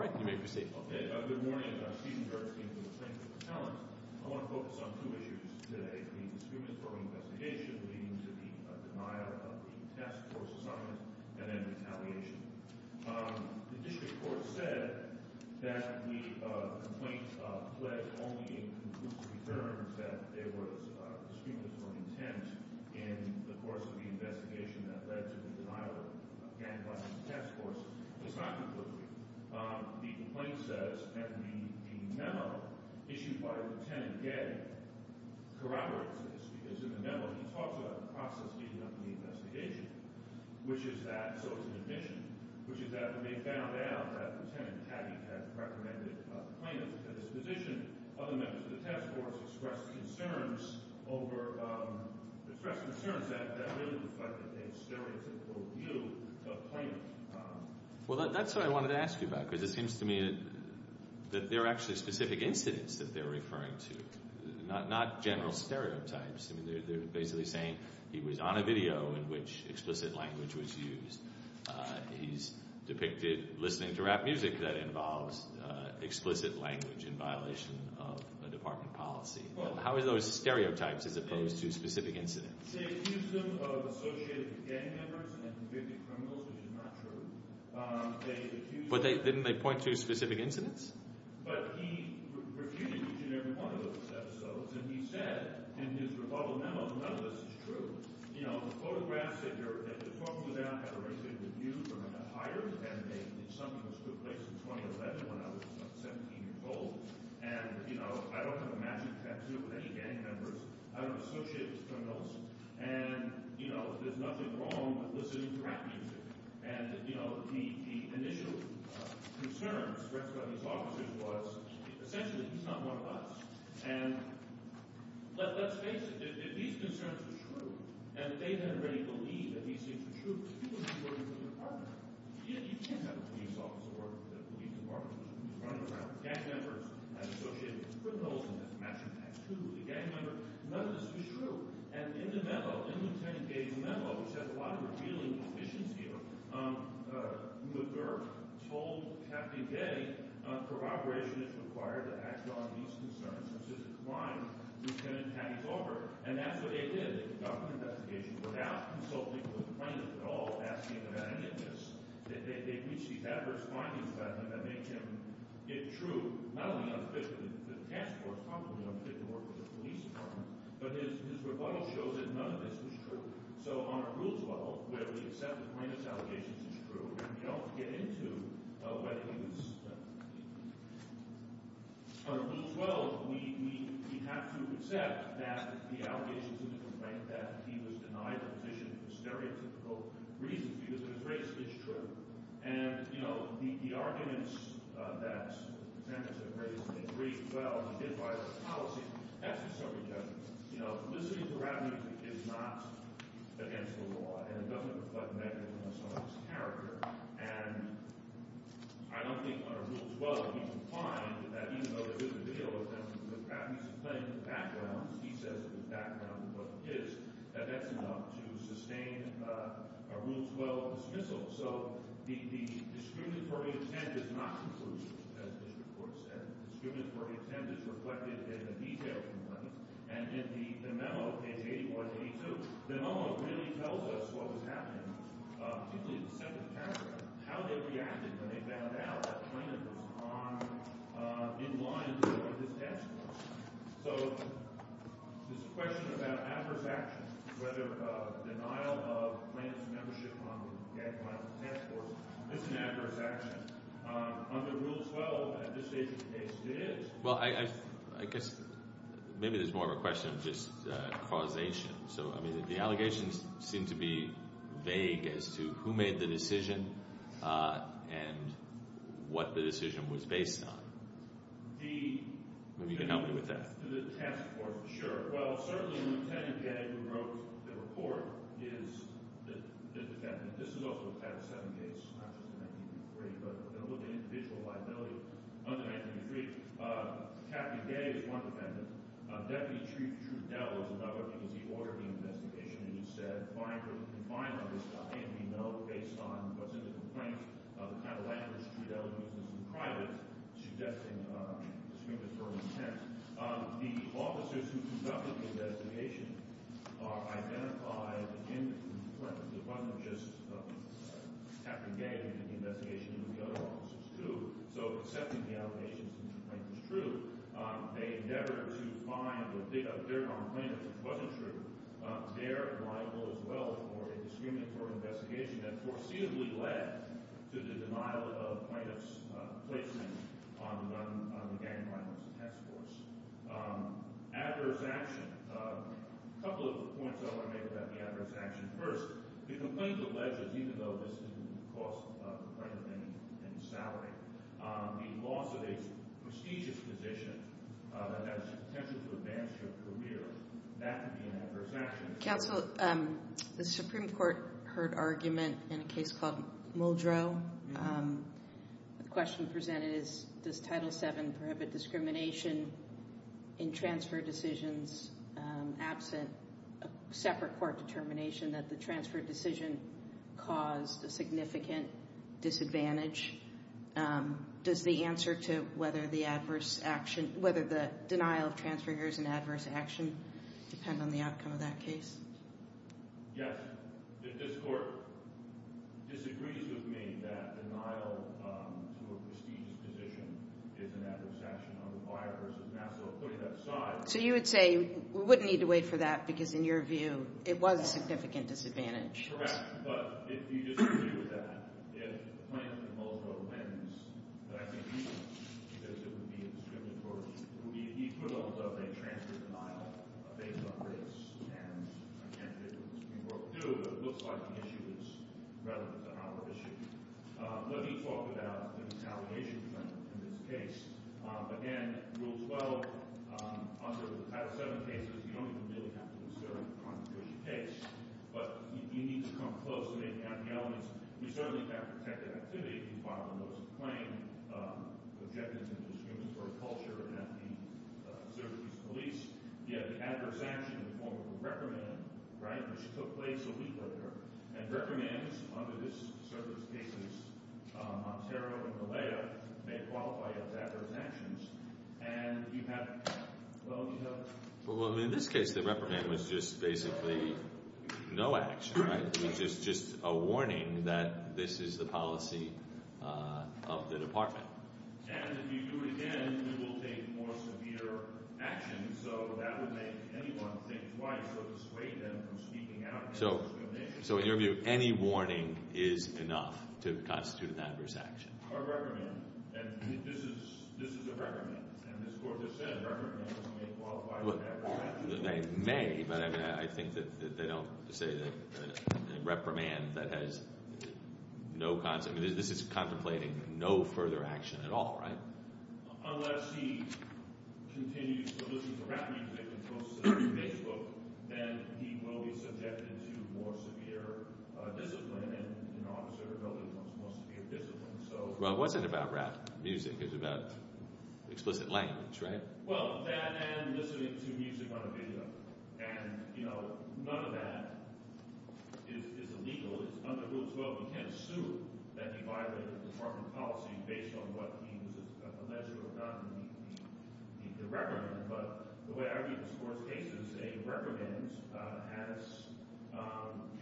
I want to focus on two issues today, the discriminatory investigation leading to the denial of the task force assignment and then retaliation. The district court said that the complaint pled only in conclusive terms that there was discriminatory intent in the course of the investigation that led to the denial of the task force. It's not conclusive. The complaint says that the memo issued by Lieutenant Gaddy corroborates this because in the memo he talks about the process leading up to the investigation, which is that, so is the admission, which is that when they found out that Lieutenant Gaddy had recommended plaintiffs for this position, other members of the task force expressed concerns that that really reflected a stereotypical view of plaintiffs. Well, that's what I wanted to ask you about because it seems to me that there are actually specific incidents that they're referring to, not general stereotypes. They're basically saying he was on a video in which explicit language was used. He's depicted listening to rap music that involves explicit language in violation of a department policy. How are those stereotypes as opposed to specific incidents? They accused him of associating with gang members and convicted criminals, which is not true. They accused him— But didn't they point to specific incidents? But he refuted each and every one of those episodes, and he said in his rebuttal memo none of this is true. You know, the photographs that you're talking about have a very big review from a higher than they did something that took place in 2011 when I was about 17 years old, and you know, I don't have a matching tattoo of any gang members. I don't associate with criminals. And, you know, there's nothing wrong with listening to rap music. And, you know, the initial concern expressed by these officers was essentially he's not one of us. And let's face it. If these concerns were true and if they had already believed that these things were true, people would be working for the department. You can't have a police officer working for the police department running around with gang members and associating with criminals and matching tattoos. The gang members—none of this was true. And in the memo, in Lt. Gay's memo, which has a lot of revealing positions here, McGurk told Captain Gay corroboration is required to act on these concerns. This is a crime Lt. Hattie's over. And that's what they did. They conducted investigations without consulting with the plaintiff at all, asking about any of this. They reached these adverse findings about him that make him—it's true, not only unofficially to the task force, probably unofficially to the police department, but his rebuttal shows that none of this was true. So on a rules level, where we accept the plaintiff's allegations as true, we don't get into whether he was—on a rules level, we have to accept that the allegations in the complaint that he was denied a position for stereotypical reasons because his race is true. And, you know, the arguments that the defendants have raised in 312 and did violate the policy, that's just so ridiculous. You know, soliciting for abuse is not against the law, and it doesn't reflect negligence on a person's character. And I don't think on a rules level we can find that even though there's a video of him—he's playing in the background. He says that the background was his. That that's enough to sustain a rules level dismissal. So the discriminatory intent is not conclusive, as this report said. The discriminatory intent is reflected in the details of the complaint. And in the memo, page 81 and 82, the memo really tells us what was happening in the second paragraph, how they reacted when they found out that the plaintiff was on—in line with this task force. So there's a question about adverse action, whether denial of plaintiff's membership on the gag plan task force is an adverse action. Under Rule 12, at this stage of the case, it is. Well, I guess maybe there's more of a question of just causation. So, I mean, the allegations seem to be vague as to who made the decision and what the decision was based on. The— Maybe you can help me with that. The task force, sure. Well, certainly, Lt. Gay, who wrote the report, is the defendant. This is also a Title VII case, not just in 1983, but a little bit of individual liability under 1983. Captain Gay is one defendant. Deputy Chief Trudell is another because he ordered the investigation and he said, and we know based on what's in the complaint, the kind of language Trudell uses in private suggesting discriminatory intent. The officers who conducted the investigation identified in the complaint, it wasn't just Captain Gay who did the investigation, it was the other officers too. So accepting the allegations in the complaint was true. They endeavored to find their complainant, which wasn't true. They're liable as well for a discriminatory investigation that foreseeably led to the denial of plaintiff's placement on the gang violence task force. Adverse action. A couple of points I want to make about the adverse action. First, the complaint alleges, even though this didn't cost the plaintiff any salary, the loss of a prestigious position that has the potential to advance her career, that would be an adverse action. Counsel, the Supreme Court heard argument in a case called Muldrow. The question presented is, does Title VII prohibit discrimination in transfer decisions absent a separate court determination that the transfer decision caused a significant disadvantage? Does the answer to whether the denial of transfer is an adverse action depend on the outcome of that case? Yes. This court disagrees with me that denial to a prestigious position is an adverse action on the buyer versus Nassau putting that aside. So you would say we wouldn't need to wait for that because in your view it was a significant disadvantage. Correct. But if you disagree with that, if the plaintiff in Muldrow wins, but I think he won't because it would be a discriminatory, it would be equivalent of a transfer denial based on race. And I can't figure out what the Supreme Court would do, but it looks like the issue is relevant to our issue. Let me talk about the retaliation plan in this case. Again, Rule 12, under Title VII cases, you don't even really have to consider the consequences of the case, but you need to come close to the elements. You certainly can't protect an activity if you file a notice of claim, objecting to discriminatory culture and have the service police, you have the adverse action in the form of a reprimand, right, which took place a week earlier. And reprimands under this service case in Ontario and Malaya may qualify as adverse actions. And you have, well, you have Well, in this case the reprimand was just basically no action, right? It was just a warning that this is the policy of the department. And if you do it again, it will take more severe action, so that would make anyone think twice or dissuade them from speaking out against discrimination. So in your view, any warning is enough to constitute an adverse action. A reprimand, and this is a reprimand, and this Court has said reprimands may qualify as adverse actions. They may, but I think that they don't say that a reprimand that has no consequence, this is contemplating no further action at all, right? Unless he continues to listen to rap music and posts it on Facebook, then he will be subjected to more severe discipline and, you know, observability becomes more severe discipline. Well, it wasn't about rap music. It was about explicit language, right? Well, that and listening to music on a video. And, you know, none of that is illegal. It's under Rule 12. You can't sue that you violated the department policy based on what means is alleged or not in the reprimand. But the way I view this Court's case is a reprimand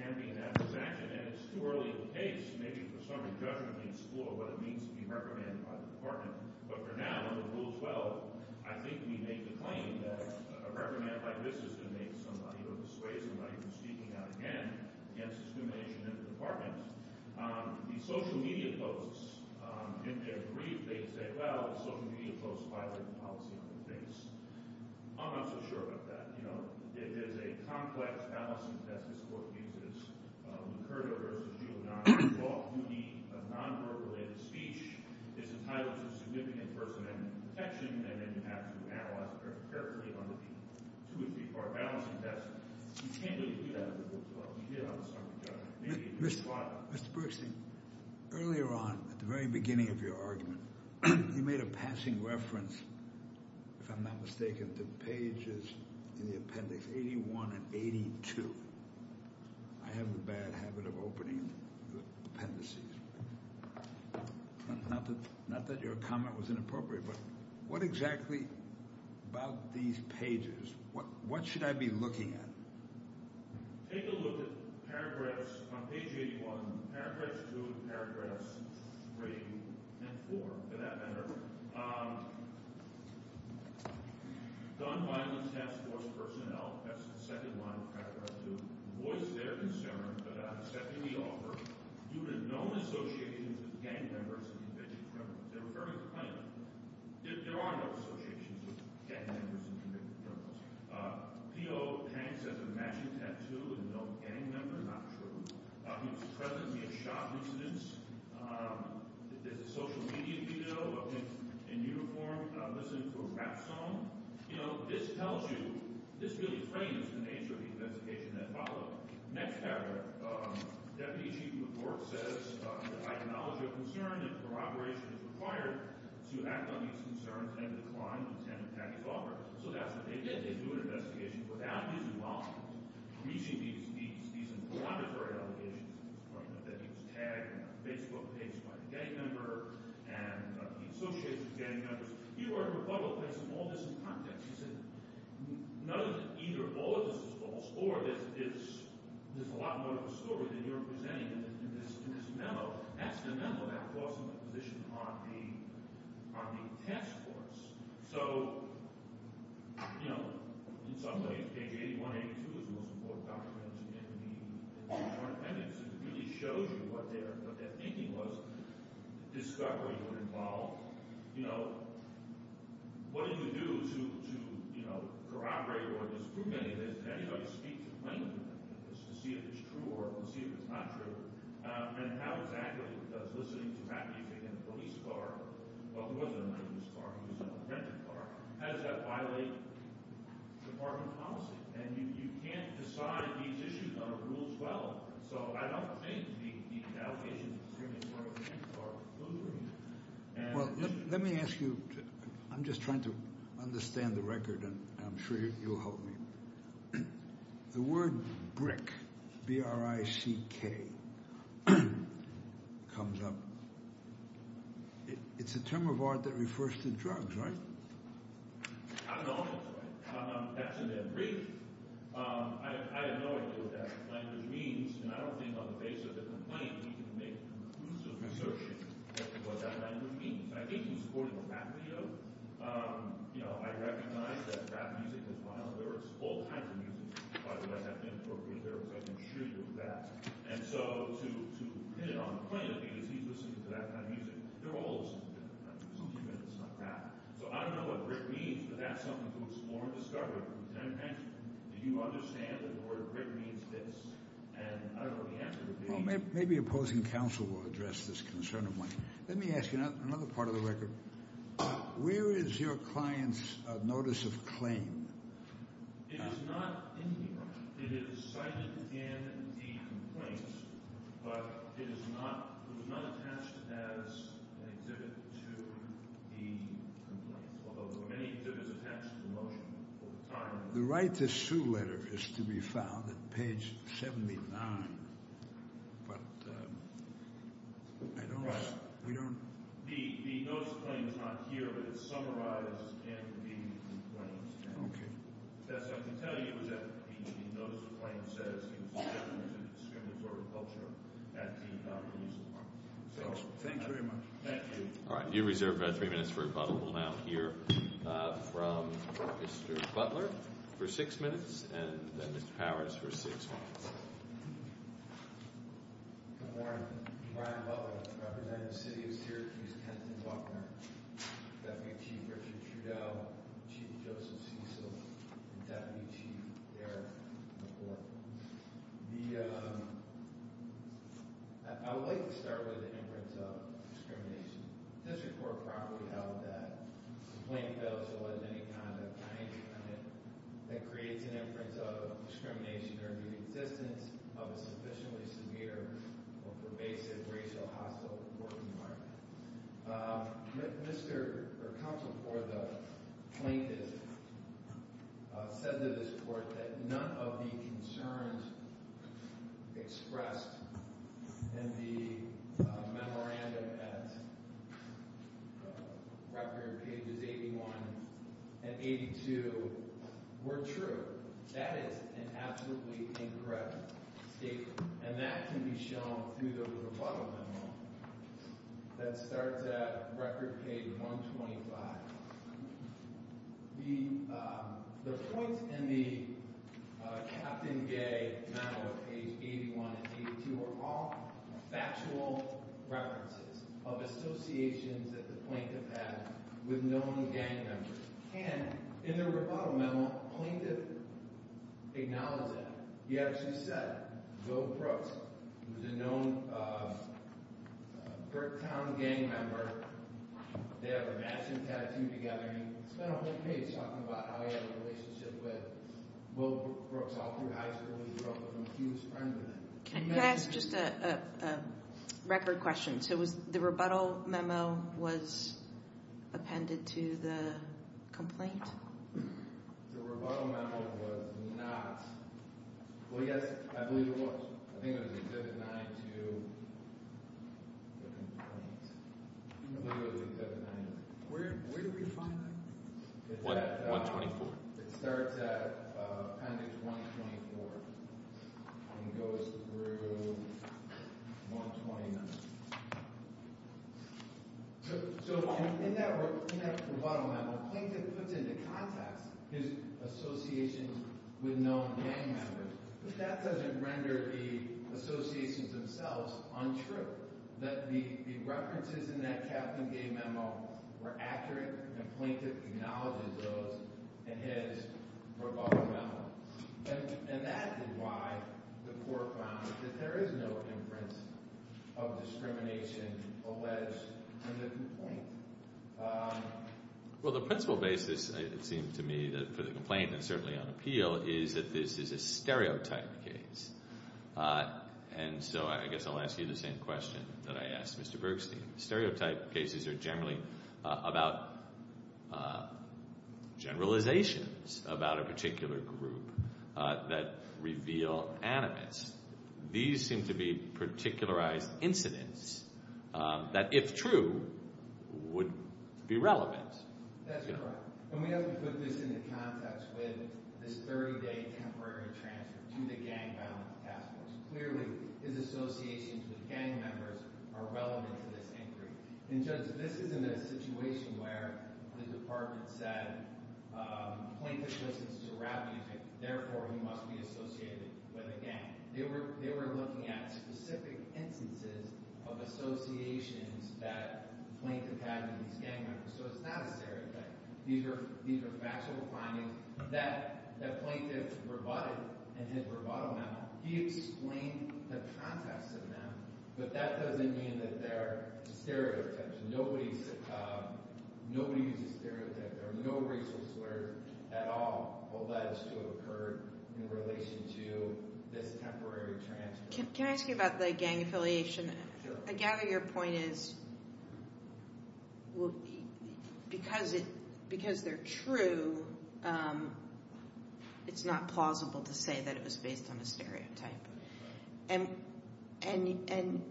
can be an adverse action. And it's too early of a case. Maybe for some, a judgment may explore what it means to be reprimanded by the department. But for now, under Rule 12, I think we make the claim that a reprimand like this is going to make somebody or dissuade somebody from speaking out again against discrimination in the department. The social media posts, in their brief, they say, well, the social media posts violated the policy on their face. I'm not so sure about that. You know, it is a complex balancing test this Court uses. Lucerto v. Giuliano, the law of duty of non-verbal and speech is entitled to significant personal protection. And then you have to analyze it carefully under the two or three-part balancing test. You can't really do that under Rule 12. You can on the summary judgment. Mr. Bergstein, earlier on, at the very beginning of your argument, you made a passing reference, if I'm not mistaken, to pages in the appendix 81 and 82. I have a bad habit of opening appendices. Not that your comment was inappropriate, but what exactly about these pages, what should I be looking at? Take a look at paragraphs on page 81, paragraphs 2, paragraphs 3 and 4, for that matter. Done by the task force personnel, that's the second line of paragraph 2, voice their concern, but I'm accepting the offer due to known associations with gang members and convicted criminals. They were fairly plain. There are no associations with gang members and convicted criminals. P.O. Hanks has a matching tattoo with a known gang member? Not true. He was present in a shop incident. There's a social media video of him in uniform listening to a rap song. You know, this tells you, this really frames the nature of the investigation that followed. Next paragraph, deputy chief of the court says, I acknowledge your concern that corroboration is required to act on these concerns and to decline the intended package offer. So that's what they did. Without even reaching these inflammatory allegations, that he was tagged in a Facebook page by a gang member, and the association of gang members, he wrote a rebuttal placing all this in context. He said, none of this, either all of this is false, or there's a lot more to the story than you're presenting in this memo. That's the memo about glossing the position on the task force. So, you know, in some ways, page 8182 is the most important document in the joint appendix. It really shows you what their thinking was. Discovery would involve, you know, what did you do to corroborate or disprove any of this? Did anybody speak to the plaintiff to see if it's true or to see if it's not true? And how exactly was he listening to rap music in a police car? Well, he wasn't in a police car. He was in a rented car. How does that violate department policy? And you can't decide these issues under rules well. So I don't think the allegations of discrimination are losing. Well, let me ask you. I'm just trying to understand the record, and I'm sure you'll help me. The word BRICK, B-R-I-C-K, comes up. It's a term of art that refers to drugs, right? I don't know if it's right. That's in their brief. I have no idea what that language means, and I don't think on the basis of the complaint, we can make conclusive research into what that language means. I think he was recording a rap video. You know, I recognize that rap music is wild. There are all kinds of music, by the way, that have been incorporated there, because I can assure you of that. And so to hit it on the plaintiff, because he's listening to that kind of music, there are all sorts of different kinds of music. It's not rap. So I don't know what BRICK means, but that's something to explore and discover. Can I ask you, do you understand that the word BRICK means this? And I don't know what the answer would be. Well, maybe opposing counsel will address this concern of mine. Let me ask you another part of the record. Where is your client's notice of claim? It is not in here. It is cited in the complaint, but it was not attached as an exhibit to the complaint, although there were many exhibits attached to the motion at the time. The right-to-sue letter is to be found at page 79. But I don't know. The notice of claim is not here, but it's summarized in the complaint. Okay. Yes, I can tell you that the notice of claim says it was intended as a discriminatory culture at the time. Thanks very much. Thank you. All right. You reserve three minutes for rebuttal. We'll now hear from Mr. Butler for six minutes and then Mr. Powers for six minutes. Good morning. Brian Butler, representative of the city of Syracuse, Kensington, Baltimore. Deputy Chief Richard Trudeau, Chief Joseph Cecil, and Deputy Chief Eric McCord. I would like to start with the imprints of discrimination. This report probably held that the complaint fails to allege any kind of claims that creates an inference of discrimination during the existence of a sufficiently severe or pervasive racial hostile working market. Mr. Counsel for the plaintiff said to this court that none of the concerns expressed in the memorandum at record pages 81 and 82 were true. That is an absolutely incorrect statement, and that can be shown through the rebuttal memo that starts at record page 125. The points in the Captain Gay memo at page 81 and 82 are all factual references of associations that the plaintiff had with known gang members. And in the rebuttal memo, the plaintiff acknowledged that. He actually said, Joe Brooks, who was a known Berktown gang member, they have a matching tattoo together, and he spent a whole page talking about how he had a relationship with Will Brooks all through high school. He grew up with him. He was friends with him. Can you ask just a record question? So was the rebuttal memo was appended to the complaint? The rebuttal memo was not. Well, yes, I believe it was. I think it was Exhibit 9 to the complaint. I believe it was Exhibit 9. Where did we find that? It's at 124. It starts at appendix 124 and goes through 129. So in that rebuttal memo, the plaintiff puts into context his association with known gang members, but that doesn't render the associations themselves untrue. That the references in that Captain Gay memo were accurate, and the plaintiff acknowledges those in his rebuttal memo. And that is why the court found that there is no inference of discrimination alleged in the complaint. Well, the principal basis, it seemed to me, for the complaint, and certainly on appeal, is that this is a stereotype case. And so I guess I'll ask you the same question that I asked Mr. Bergstein. Stereotype cases are generally about generalizations about a particular group that reveal animus. These seem to be particularized incidents that, if true, would be relevant. That's correct. And we have to put this into context with this 30-day temporary transfer to the gang violence task force. Clearly, his associations with gang members are relevant to this inquiry. And Judge, this is in a situation where the department said, plaintiff listens to rap music, therefore he must be associated with a gang. They were looking at specific instances of associations that the plaintiff had with these gang members. So it's not a stereotype. These are factual findings that the plaintiff rebutted in his rebuttal memo. He explained the context of them, but that doesn't mean that they're stereotypes. Nobody's a stereotype. There are no racial slurs at all alleged to have occurred in relation to this temporary transfer. Can I ask you about the gang affiliation? Sure. So your point is, because they're true, it's not plausible to say that it was based on a stereotype. And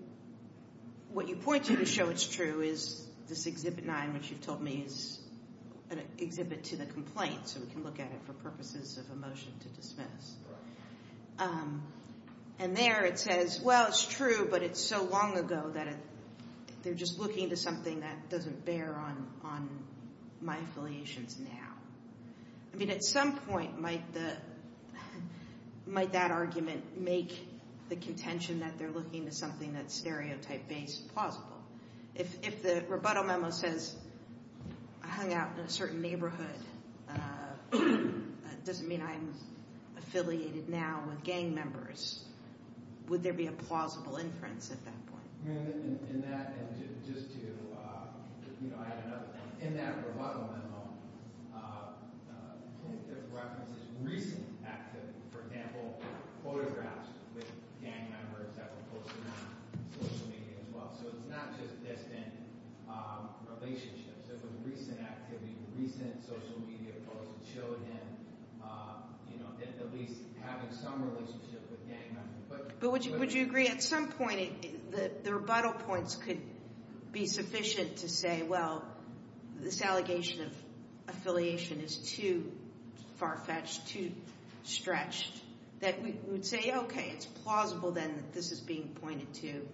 what you point to to show it's true is this Exhibit 9, which you've told me is an exhibit to the complaint, so we can look at it for purposes of a motion to dismiss. And there it says, well, it's true, but it's so long ago that they're just looking to something that doesn't bear on my affiliations now. I mean, at some point might that argument make the contention that they're looking to something that's stereotype-based plausible. If the rebuttal memo says I hung out in a certain neighborhood, that doesn't mean I'm affiliated now with gang members. Would there be a plausible inference at that point? In that, and just to add another thing, in that rebuttal memo, I think it references recent activity. For example, photographs with gang members that were posted on social media as well. So it's not just distant relationships. It was recent activity, recent social media posts that showed him at least having some relationship with gang members. But would you agree at some point that the rebuttal points could be sufficient to say, well, this allegation of affiliation is too far-fetched, too stretched, that we would say, okay, it's plausible then that this is being pointed to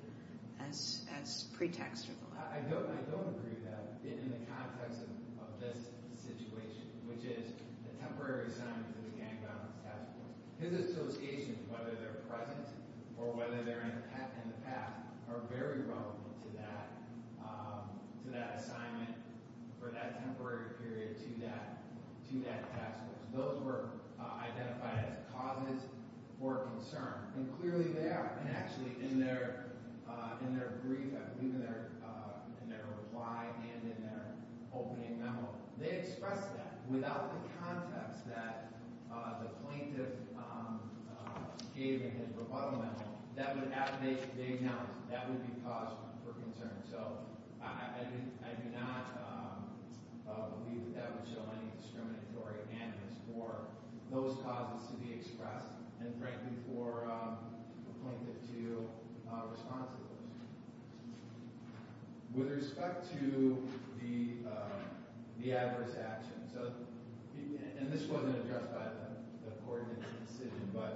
as pretext or the like. I don't agree with that in the context of this situation, which is the temporary assignment to the gang violence task force. His associations, whether they're present or whether they're in the past, are very relevant to that assignment for that temporary period to that task force. Those were identified as causes for concern. And clearly they are. And actually in their brief, I believe in their reply and in their opening memo, they expressed that without the context that the plaintiff gave in his rebuttal memo. They announced that would be cause for concern. So I do not believe that that would show any discriminatory animus for those causes to be expressed and, frankly, for a plaintiff to respond to those. With respect to the adverse action, and this wasn't addressed by the court in this decision, but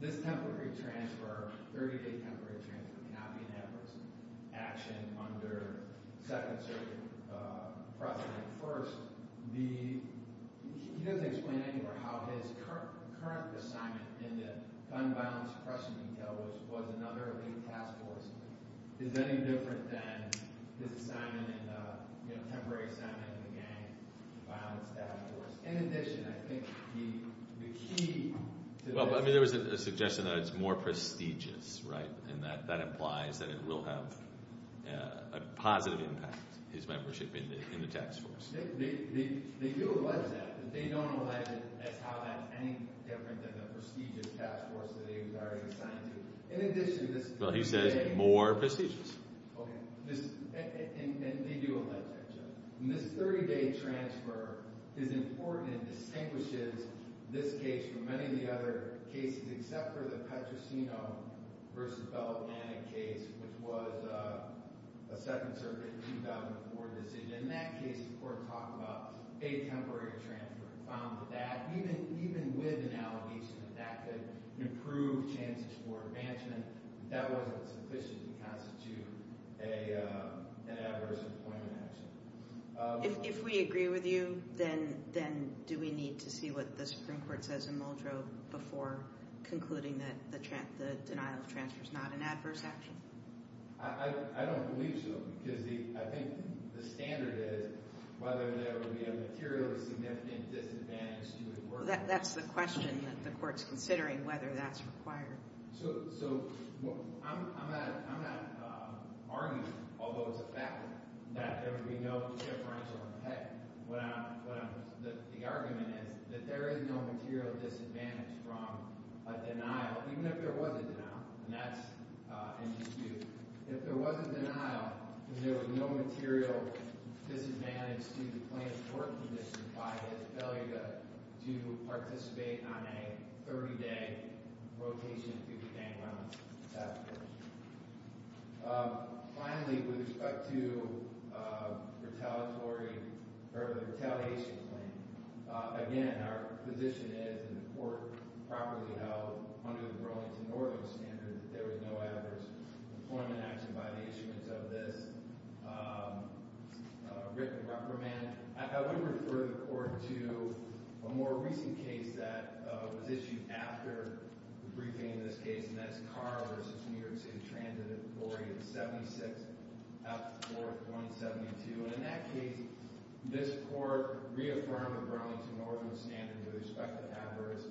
this temporary transfer, 30-day temporary transfer, cannot be an adverse action under Second Circuit precedent. First, he doesn't explain anywhere how his current assignment in the gang violence precedent detail, which was another league task force, is any different than his temporary assignment in the gang violence task force. In addition, I think the key to this— Well, I mean, there was a suggestion that it's more prestigious, right? And that implies that it will have a positive impact, his membership in the task force. They do allege that, but they don't allege it as how that's any different than the prestigious task force that he was already assigned to. In addition, this— Well, he says more prestigious. Okay. And they do allege that, Judge. And this 30-day transfer is important and distinguishes this case from many of the other cases except for the Petrosino v. Bell organic case, which was a Second Circuit 2004 decision. In that case, the court talked about a temporary transfer and found that even with analogies that that could improve chances for advancement, that wasn't sufficient to constitute an adverse employment action. If we agree with you, then do we need to see what the Supreme Court says in Muldrow before concluding that the denial of transfer is not an adverse action? I don't believe so, because I think the standard is whether there would be a materially significant disadvantage to the worker. That's the question that the court's considering, whether that's required. So I'm not arguing, although it's a fact, that there would be no differential effect. The argument is that there is no material disadvantage from a denial, even if there was a denial, and that's in dispute. If there was a denial, then there was no material disadvantage to the plaintiff's work condition by his failure to participate on a 30-day rotation to the bank loan after. Finally, with respect to the retaliation claim, again, our position is, and the court properly held under the Burlington Northern standard, that there was no adverse employment action by the issuance of this written reprimand. I would refer the court to a more recent case that was issued after the briefing in this case, and that's Carr v. New York City Transit Inquiry 76F4172. In that case, this court reaffirmed the Burlington Northern standard with respect to adverse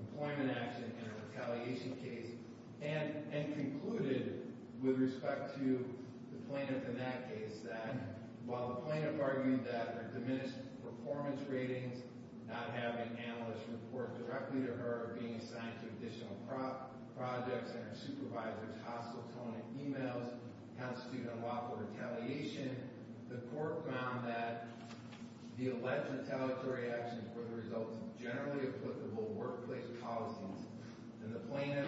employment action in a retaliation case and concluded, with respect to the plaintiff in that case, that while the plaintiff argued that her diminished performance ratings, not having analysts report directly to her, being assigned to additional projects, and her supervisor's hostile tone in emails constitute unlawful retaliation, the court found that the alleged retaliatory actions were the result of generally applicable workplace policies. And the plaintiff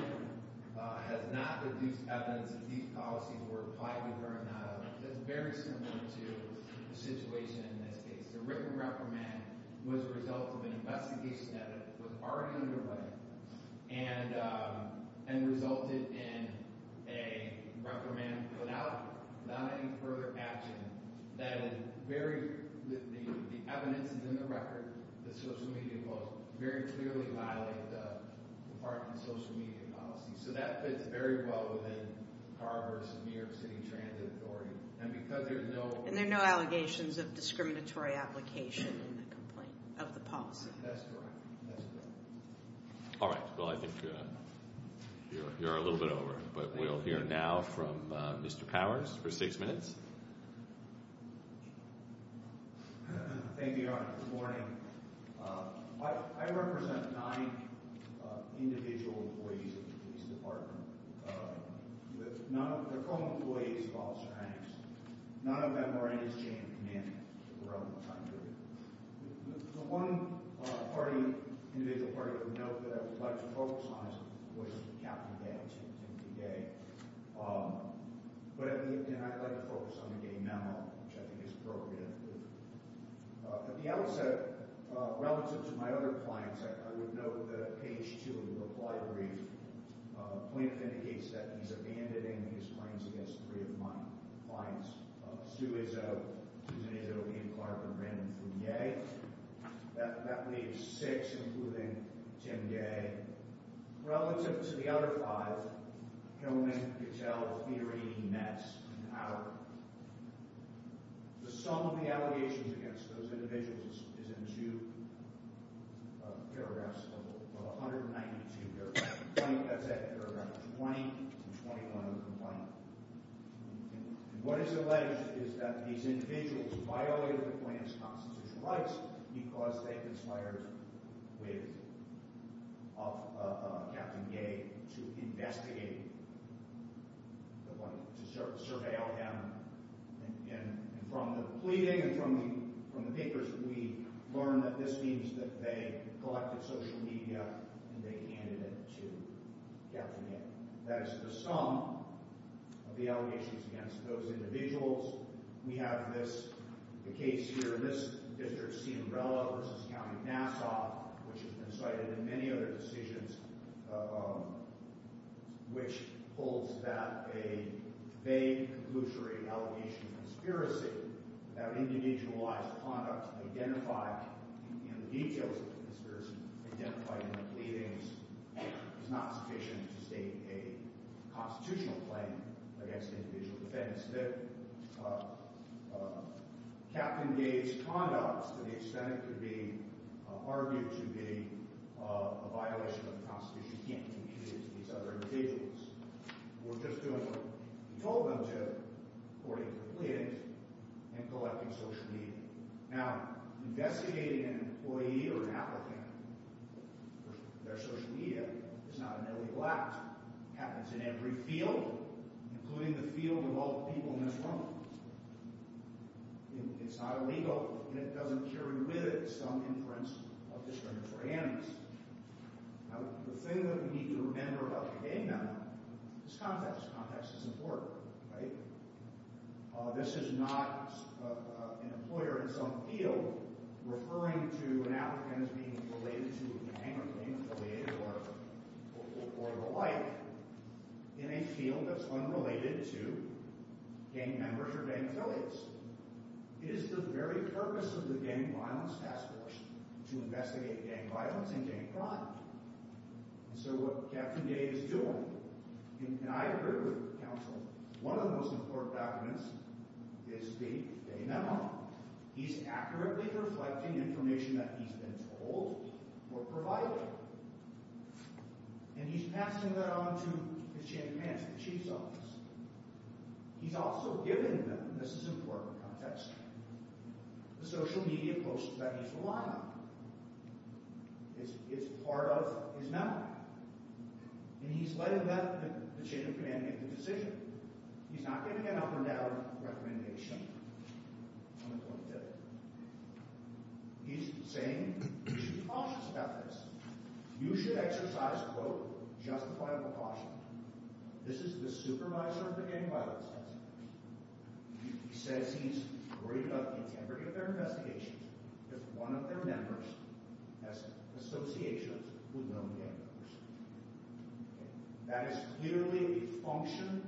has not produced evidence that these policies were applied to her or not. It's very similar to the situation in this case. The written reprimand was the result of an investigation that was already underway and resulted in a reprimand without any further action The evidence is in the record. The social media post very clearly violated the department's social media policy. So that fits very well within Carr v. New York City Transit Inquiry. And because there's no- And there are no allegations of discriminatory application in the complaint, of the policy. That's correct. That's correct. All right. Well, I think you're a little bit over. But we'll hear now from Mr. Powers for six minutes. Thank you, Your Honor. Good morning. I represent nine individual employees of the police department. They're called employees of Officer Hanks. None of them are in his chain of command for a relevant time period. The one party, individual party, I would note that I would like to focus on was Captain Day, Timothy Day. But I'd like to focus on the gay memo, which I think is appropriate. At the outset, relative to my other clients, I would note that at page two of the reply brief, Plaintiff indicates that he's abandoning his claims against three of my clients, Stu Izzo, Susan Izzo, Ian Clark, and Brandon Fugate. That leaves six, including Tim Gay. Relative to the other five, Hillman, Goodell, Thierry, Ness, and Howard, the sum of the allegations against those individuals is in two paragraphs of 192 paragraphs. That's paragraph 20 and 21 of the complaint. What is alleged is that these individuals violated the plaintiff's constitutional rights because they conspired with Captain Gay to investigate, to surveil him. And from the pleading and from the papers, we learned that this means that they collected social media and they handed it to Captain Gay. That is the sum of the allegations against those individuals. We have the case here in this district, Ciambrella v. County Nassau, which has been cited in many other decisions, which holds that a vague, conclusory allegation of conspiracy without individualized conduct identified in the details of the conspiracy identified in the pleadings is not sufficient to state a constitutional claim against individual defense. Captain Gay's conduct to the extent it could be argued to be a violation of the Constitution can't be attributed to these other individuals. We're just doing what we told them to, according to the pleadings, in collecting social media. Now, investigating an employee or an applicant for their social media is not an illegal act. It happens in every field, including the field of all the people in this room. It's not illegal, and it doesn't carry with it some inference of discriminatory antics. Now, the thing that we need to remember about Captain Gay now is context. Context is important, right? This is not an employer in some field referring to an applicant as being related to a gang or gang affiliate or the like in a field that's unrelated to gang members or gang affiliates. It is the very purpose of the Gang Violence Task Force to investigate gang violence and gang crime. And so what Captain Gay is doing—and I agree with counsel—one of the most important documents is the day memo. He's accurately reflecting information that he's been told or provided, and he's passing that on to his chief of hands, the chief's office. He's also giving them—this is important context—the social media posts that he's relying on. It's part of his memo. And he's letting the chief of command make the decision. He's not giving an up-or-down recommendation on the point of failure. He's saying we should be cautious about this. You should exercise, quote, justifiable caution. This is the supervisor of the Gang Violence Task Force. He says he's worried about the integrity of their investigations if one of their members has associations with known gang members. That is clearly a function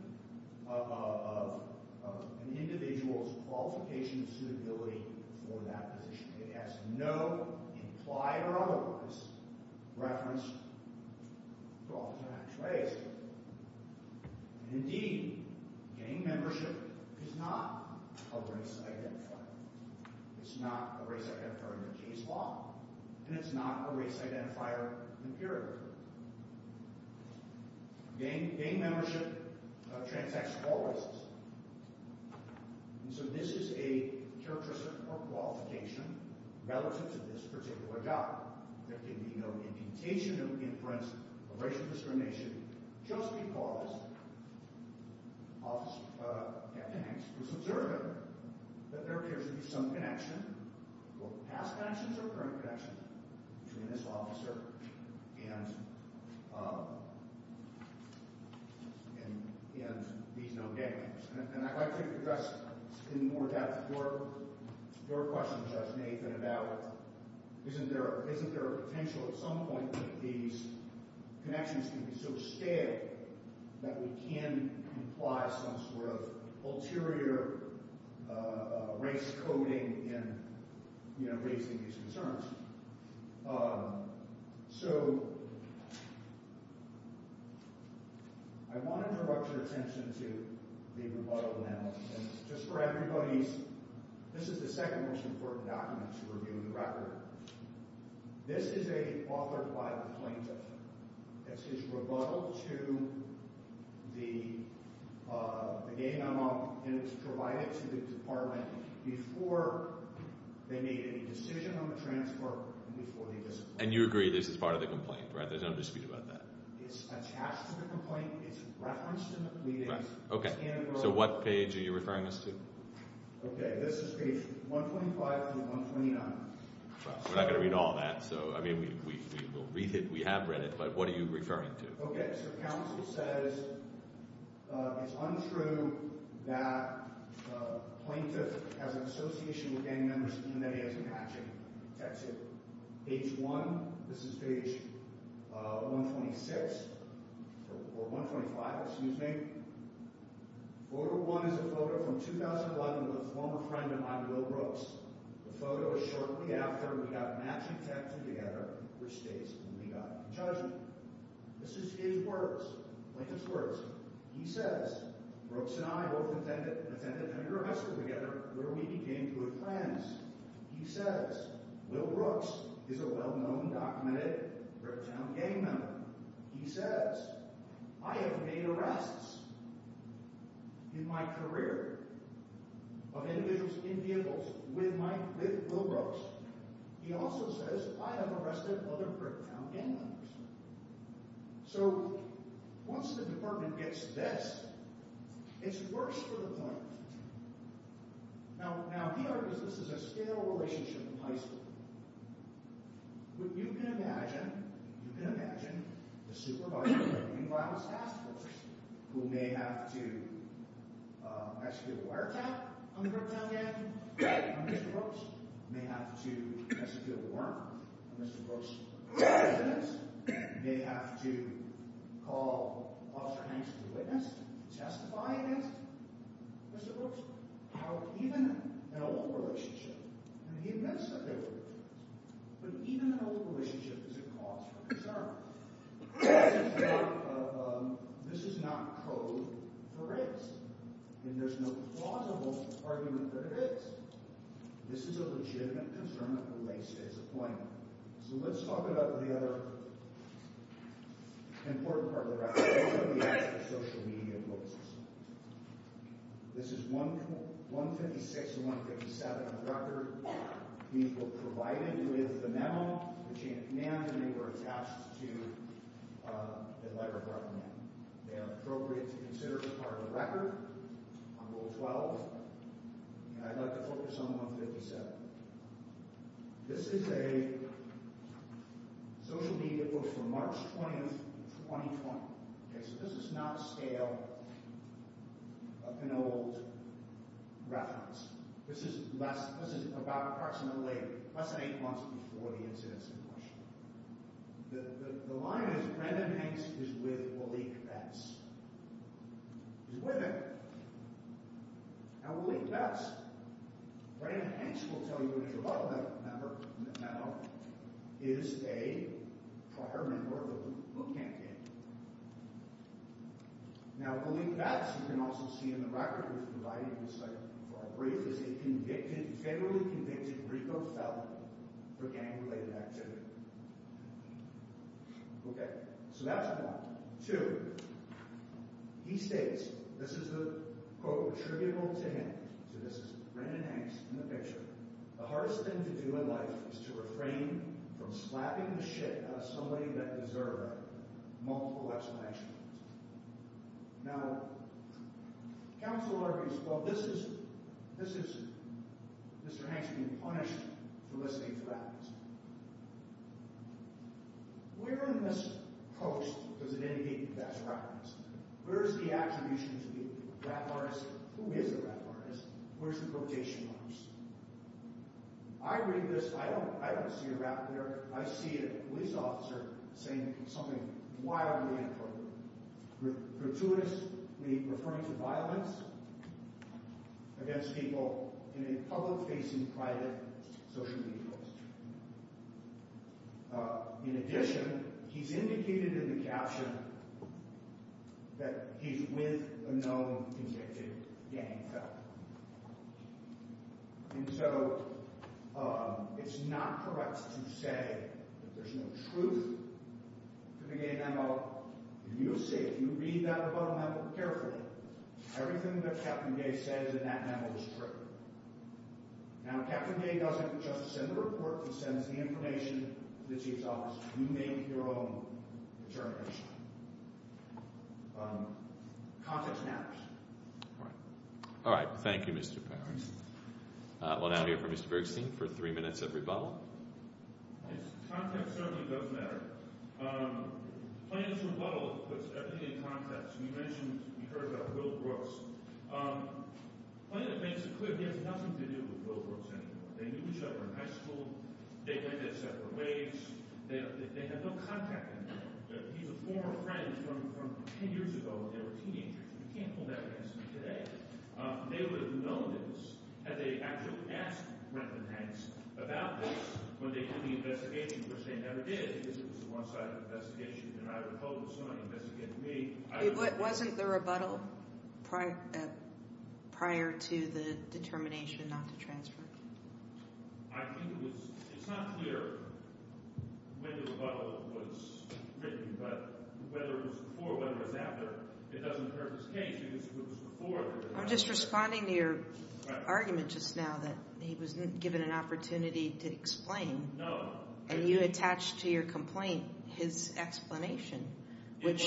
of an individual's qualification and suitability for that position. It has no implied or otherwise reference to officer-attached race. Indeed, gang membership is not a race identifier. It's not a race identifier in the case law, and it's not a race identifier in the period. Gang membership transacts all races. And so this is a characteristic or qualification relative to this particular job. There can be no indentation of inference of racial discrimination just because an officer at the Gangs was observant that there appears to be some connection, both past connections or current connections, between this officer and these known gang members. And I'd like to address in more depth your question, Judge Nathan, about isn't there a potential at some point that these connections can be so stale that we can imply some sort of ulterior race coding in raising these concerns? So I want to draw your attention to the rebuttal now. And just for everybody's—this is the second most important document to review in the record. This is a—authored by the plaintiff. This is rebuttal to the gang I'm on, and it's provided to the department before they made any decision on the transfer and before they— And you agree this is part of the complaint, right? There's no dispute about that. It's attached to the complaint. It's referenced in the pleadings. Right. Okay. So what page are you referring us to? Okay. This is page 125 through 129. We're not going to read all that, so—I mean, we will read it. We have read it. But what are you referring to? Okay. So counsel says it's untrue that the plaintiff has an association with gang members even though he has an action attached to it. Page 1, this is page 126—or 125, excuse me. Photo 1 is a photo from 2011 with a former friend of mine, Will Brooks. The photo is shortly after we got matched and texted together, which states when we got into judgment. This is his words—plaintiff's words. He says, Brooks and I both attended an arrest together where we became good friends. He says, Will Brooks is a well-known, documented Bricktown gang member. He says, I have made arrests in my career of individuals in vehicles with Will Brooks. He also says, I have arrested other Bricktown gang members. So once the department gets this, it's worse for the plaintiff. Now, he argues this is a stale relationship in high school. You can imagine—you can imagine the supervisor of the juvenile justice task force who may have to execute a wiretap on the Bricktown gang member, on Mr. Brooks, may have to execute a warrant on Mr. Brooks, may have to call Officer Hanks as a witness to testify against Mr. Brooks. How even an old relationship—and he admits that they were in a relationship—but even an old relationship is a cause for concern. This is not code for race. And there's no plausible argument that it is. This is a legitimate concern that relates to his appointment. So let's talk about the other important part of the record. What are the actual social media posts? This is 156 and 157 on the record. These were provided with the memo. They were attached to the letter of recommendation. They are appropriate to consider as part of the record on Rule 12. And I'd like to focus on 157. This is a social media post from March 20, 2020. Okay, so this is not a scale of an old reference. This is less—this is about approximately less than eight months before the incidents in March. The line is, Brandon Hanks is with Waleek Betts. He's with him. Now, Waleek Betts—Brandon Hanks, we'll tell you, is a local member in the memo—is a prior member of the Boot Camp Gang. Now, Waleek Betts, you can also see in the record, was provided with this item for our brief, is a federally convicted RICO felon for gang-related activity. Okay, so that's one. Now, two, he states—this is the quote attributable to him. So this is Brandon Hanks in the picture. The hardest thing to do in life is to refrain from slapping the shit out of somebody that deserved multiple executions. Now, counsel argues, well, this is Mr. Hanks being punished for listening to that. Where in this post does it indicate that that's reference? Where is the attribution to the rap artist? Who is the rap artist? Where's the quotation marks? I read this. I don't see a rap there. I see a police officer saying something wildly inappropriate, gratuitously referring to violence against people in a public-facing, private, social media post. In addition, he's indicated in the caption that he's with a known convicted gang felon. And so it's not correct to say that there's no truth to the gay memo. You see, if you read that above memo carefully, everything that Captain Gay says in that memo is true. Now, Captain Gay doesn't just send the report. He sends the information to the chief's office. You make your own determination. Context matters. All right. Thank you, Mr. Powers. We'll now hear from Mr. Bergstein for three minutes of rebuttal. Context certainly does matter. Plaintiff's rebuttal puts everything in context. You mentioned you heard about Will Brooks. Plaintiff makes it clear he has nothing to do with Will Brooks anymore. They knew each other in high school. They went their separate ways. They have no contact anymore. He's a former friend from ten years ago when they were teenagers. You can't hold that against me today. They would have known this had they actually asked Brenton Hanks about this when they did the investigation, which they never did because it was a one-sided investigation. And I recall there was somebody investigating me. It wasn't the rebuttal prior to the determination not to transfer? I think it was. It's not clear when the rebuttal was written, but whether it was before or whether it was after, it doesn't hurt his case because it was before. I'm just responding to your argument just now that he wasn't given an opportunity to explain. No. And you attached to your complaint his explanation, which –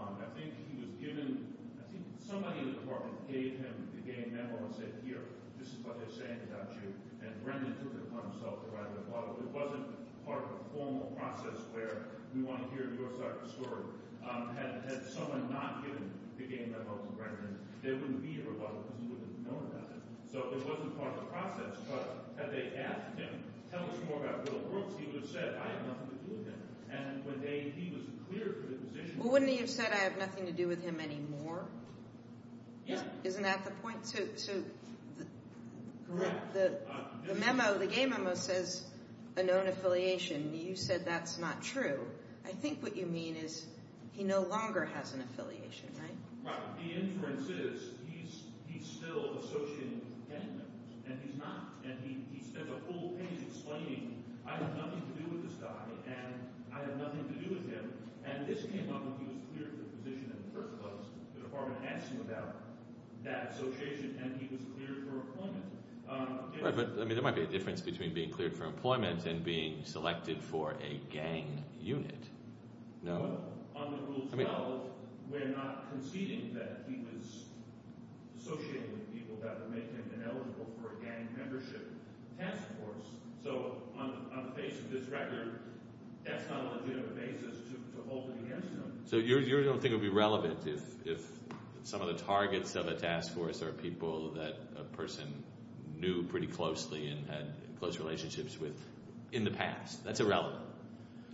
I think he was given – I think somebody in the department gave him the game memo and said, Here, this is what they're saying about you, and Brenton took it upon himself to write a rebuttal. It wasn't part of a formal process where we want to hear your side of the story. Had someone not given the game memo to Brenton, there wouldn't be a rebuttal because he wouldn't have known about it. So it wasn't part of the process. But had they asked him, tell us more about Will Brooks, he would have said, I have nothing to do with him. And when he was cleared for the position – Well, wouldn't he have said, I have nothing to do with him anymore? Yes. Isn't that the point? Correct. The game memo says a known affiliation. You said that's not true. I think what you mean is he no longer has an affiliation, right? Right. The inference is he's still associated with the gang members, and he's not. And he spends a whole page explaining, I have nothing to do with this guy, and I have nothing to do with him. And this came up when he was cleared for the position in the first place. The department asked him about that association, and he was cleared for employment. Right, but there might be a difference between being cleared for employment and being selected for a gang unit. No. On the Rule 12, we're not conceding that he was associating with people that would make him ineligible for a gang membership task force. So on the face of this record, that's not a legitimate basis to hold it against him. So you don't think it would be relevant if some of the targets of a task force are people that a person knew pretty closely and had close relationships with in the past? That's irrelevant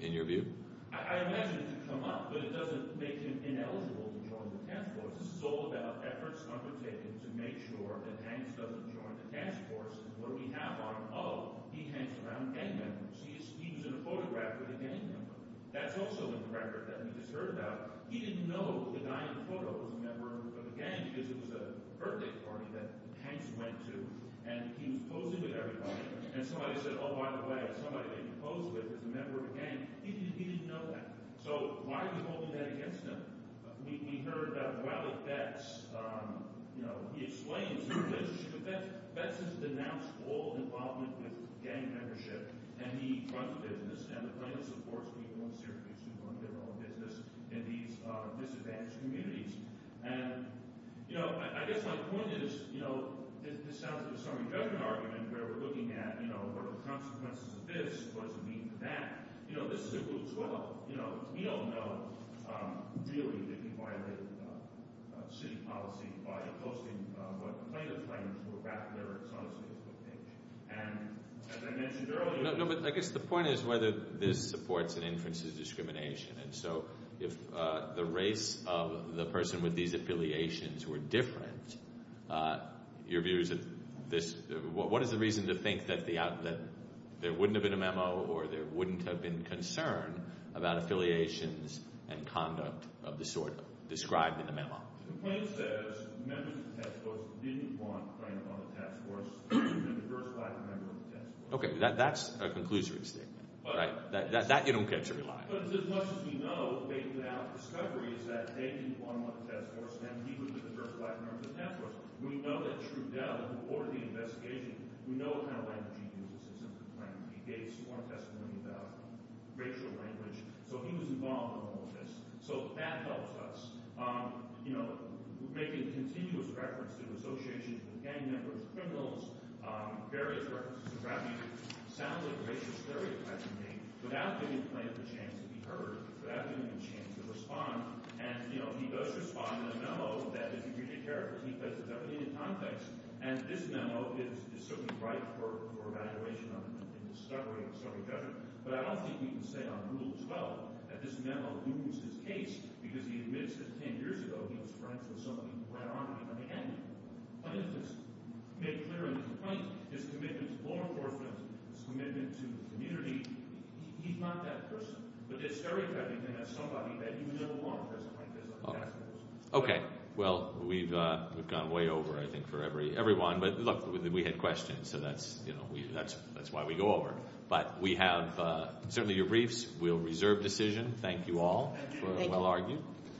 in your view? I imagine it could come up, but it doesn't make him ineligible to join the task force. This is all about efforts undertaken to make sure that Hanks doesn't join the task force. And what do we have on him? Oh, he hangs around gang members. He was in a photograph with a gang member. That's also in the record that we just heard about. He didn't know the guy in the photo was a member of a gang because it was a birthday party that Hanks went to, and he was posing with everybody. And somebody said, oh, by the way, somebody that he posed with is a member of a gang. He didn't know that. So why are we holding that against him? We heard about Wiley Betts. He explains his relationship with Betts. Betts has denounced all involvement with gang membership, and he runs a business, and the plaintiff supports people in Syracuse who run their own business in these disadvantaged communities. And I guess my point is this sounds like a summary judgment argument where we're looking at what are the consequences of this, what does it mean for that. This is a group as well. We all know, really, that he violated city policy by opposing what the plaintiff claims were back there in Syracuse. And as I mentioned earlier— No, but I guess the point is whether this supports and inferences discrimination. And so if the race of the person with these affiliations were different, your view is that this—what is the reason to think that there wouldn't have been a memo or there wouldn't have been concern about affiliations and conduct of the sort described in the memo? The plaintiff says members of the task force didn't want a claimant on the task force and diversified the members of the task force. Okay, that's a conclusory statement, right? That you don't get to rely on. But as much as we know, without discovery, is that they didn't want him on the task force, then he wouldn't have diversified the members of the task force. We know that Trudeau, who ordered the investigation, we know what kind of language he uses in some of the claims. He gave sworn testimony about racial language. So he was involved in all of this. So that helps us. You know, making continuous reference to associations with gang members, criminals, various references to rap music sounds like racial stereotyping to me. Without giving the plaintiff a chance to be heard, without giving him a chance to respond, and, you know, he does respond in a memo that is really accurate. He places everything in context. And this memo is certainly ripe for evaluation and discovery of a certain judgment. But I don't think we can say on Rule 12 that this memo looms his case because he admits that 10 years ago he was friends with somebody who ran an army. And the plaintiff has made clear in the complaint his commitment to law enforcement, his commitment to the community. He's not that person. But there's stereotyping him as somebody that he would never want on the task force. Okay. Well, we've gone way over, I think, for everyone. But look, we had questions, so that's why we go over. But we have certainly your briefs. We'll reserve decision. Thank you all for a well argued. Thank you.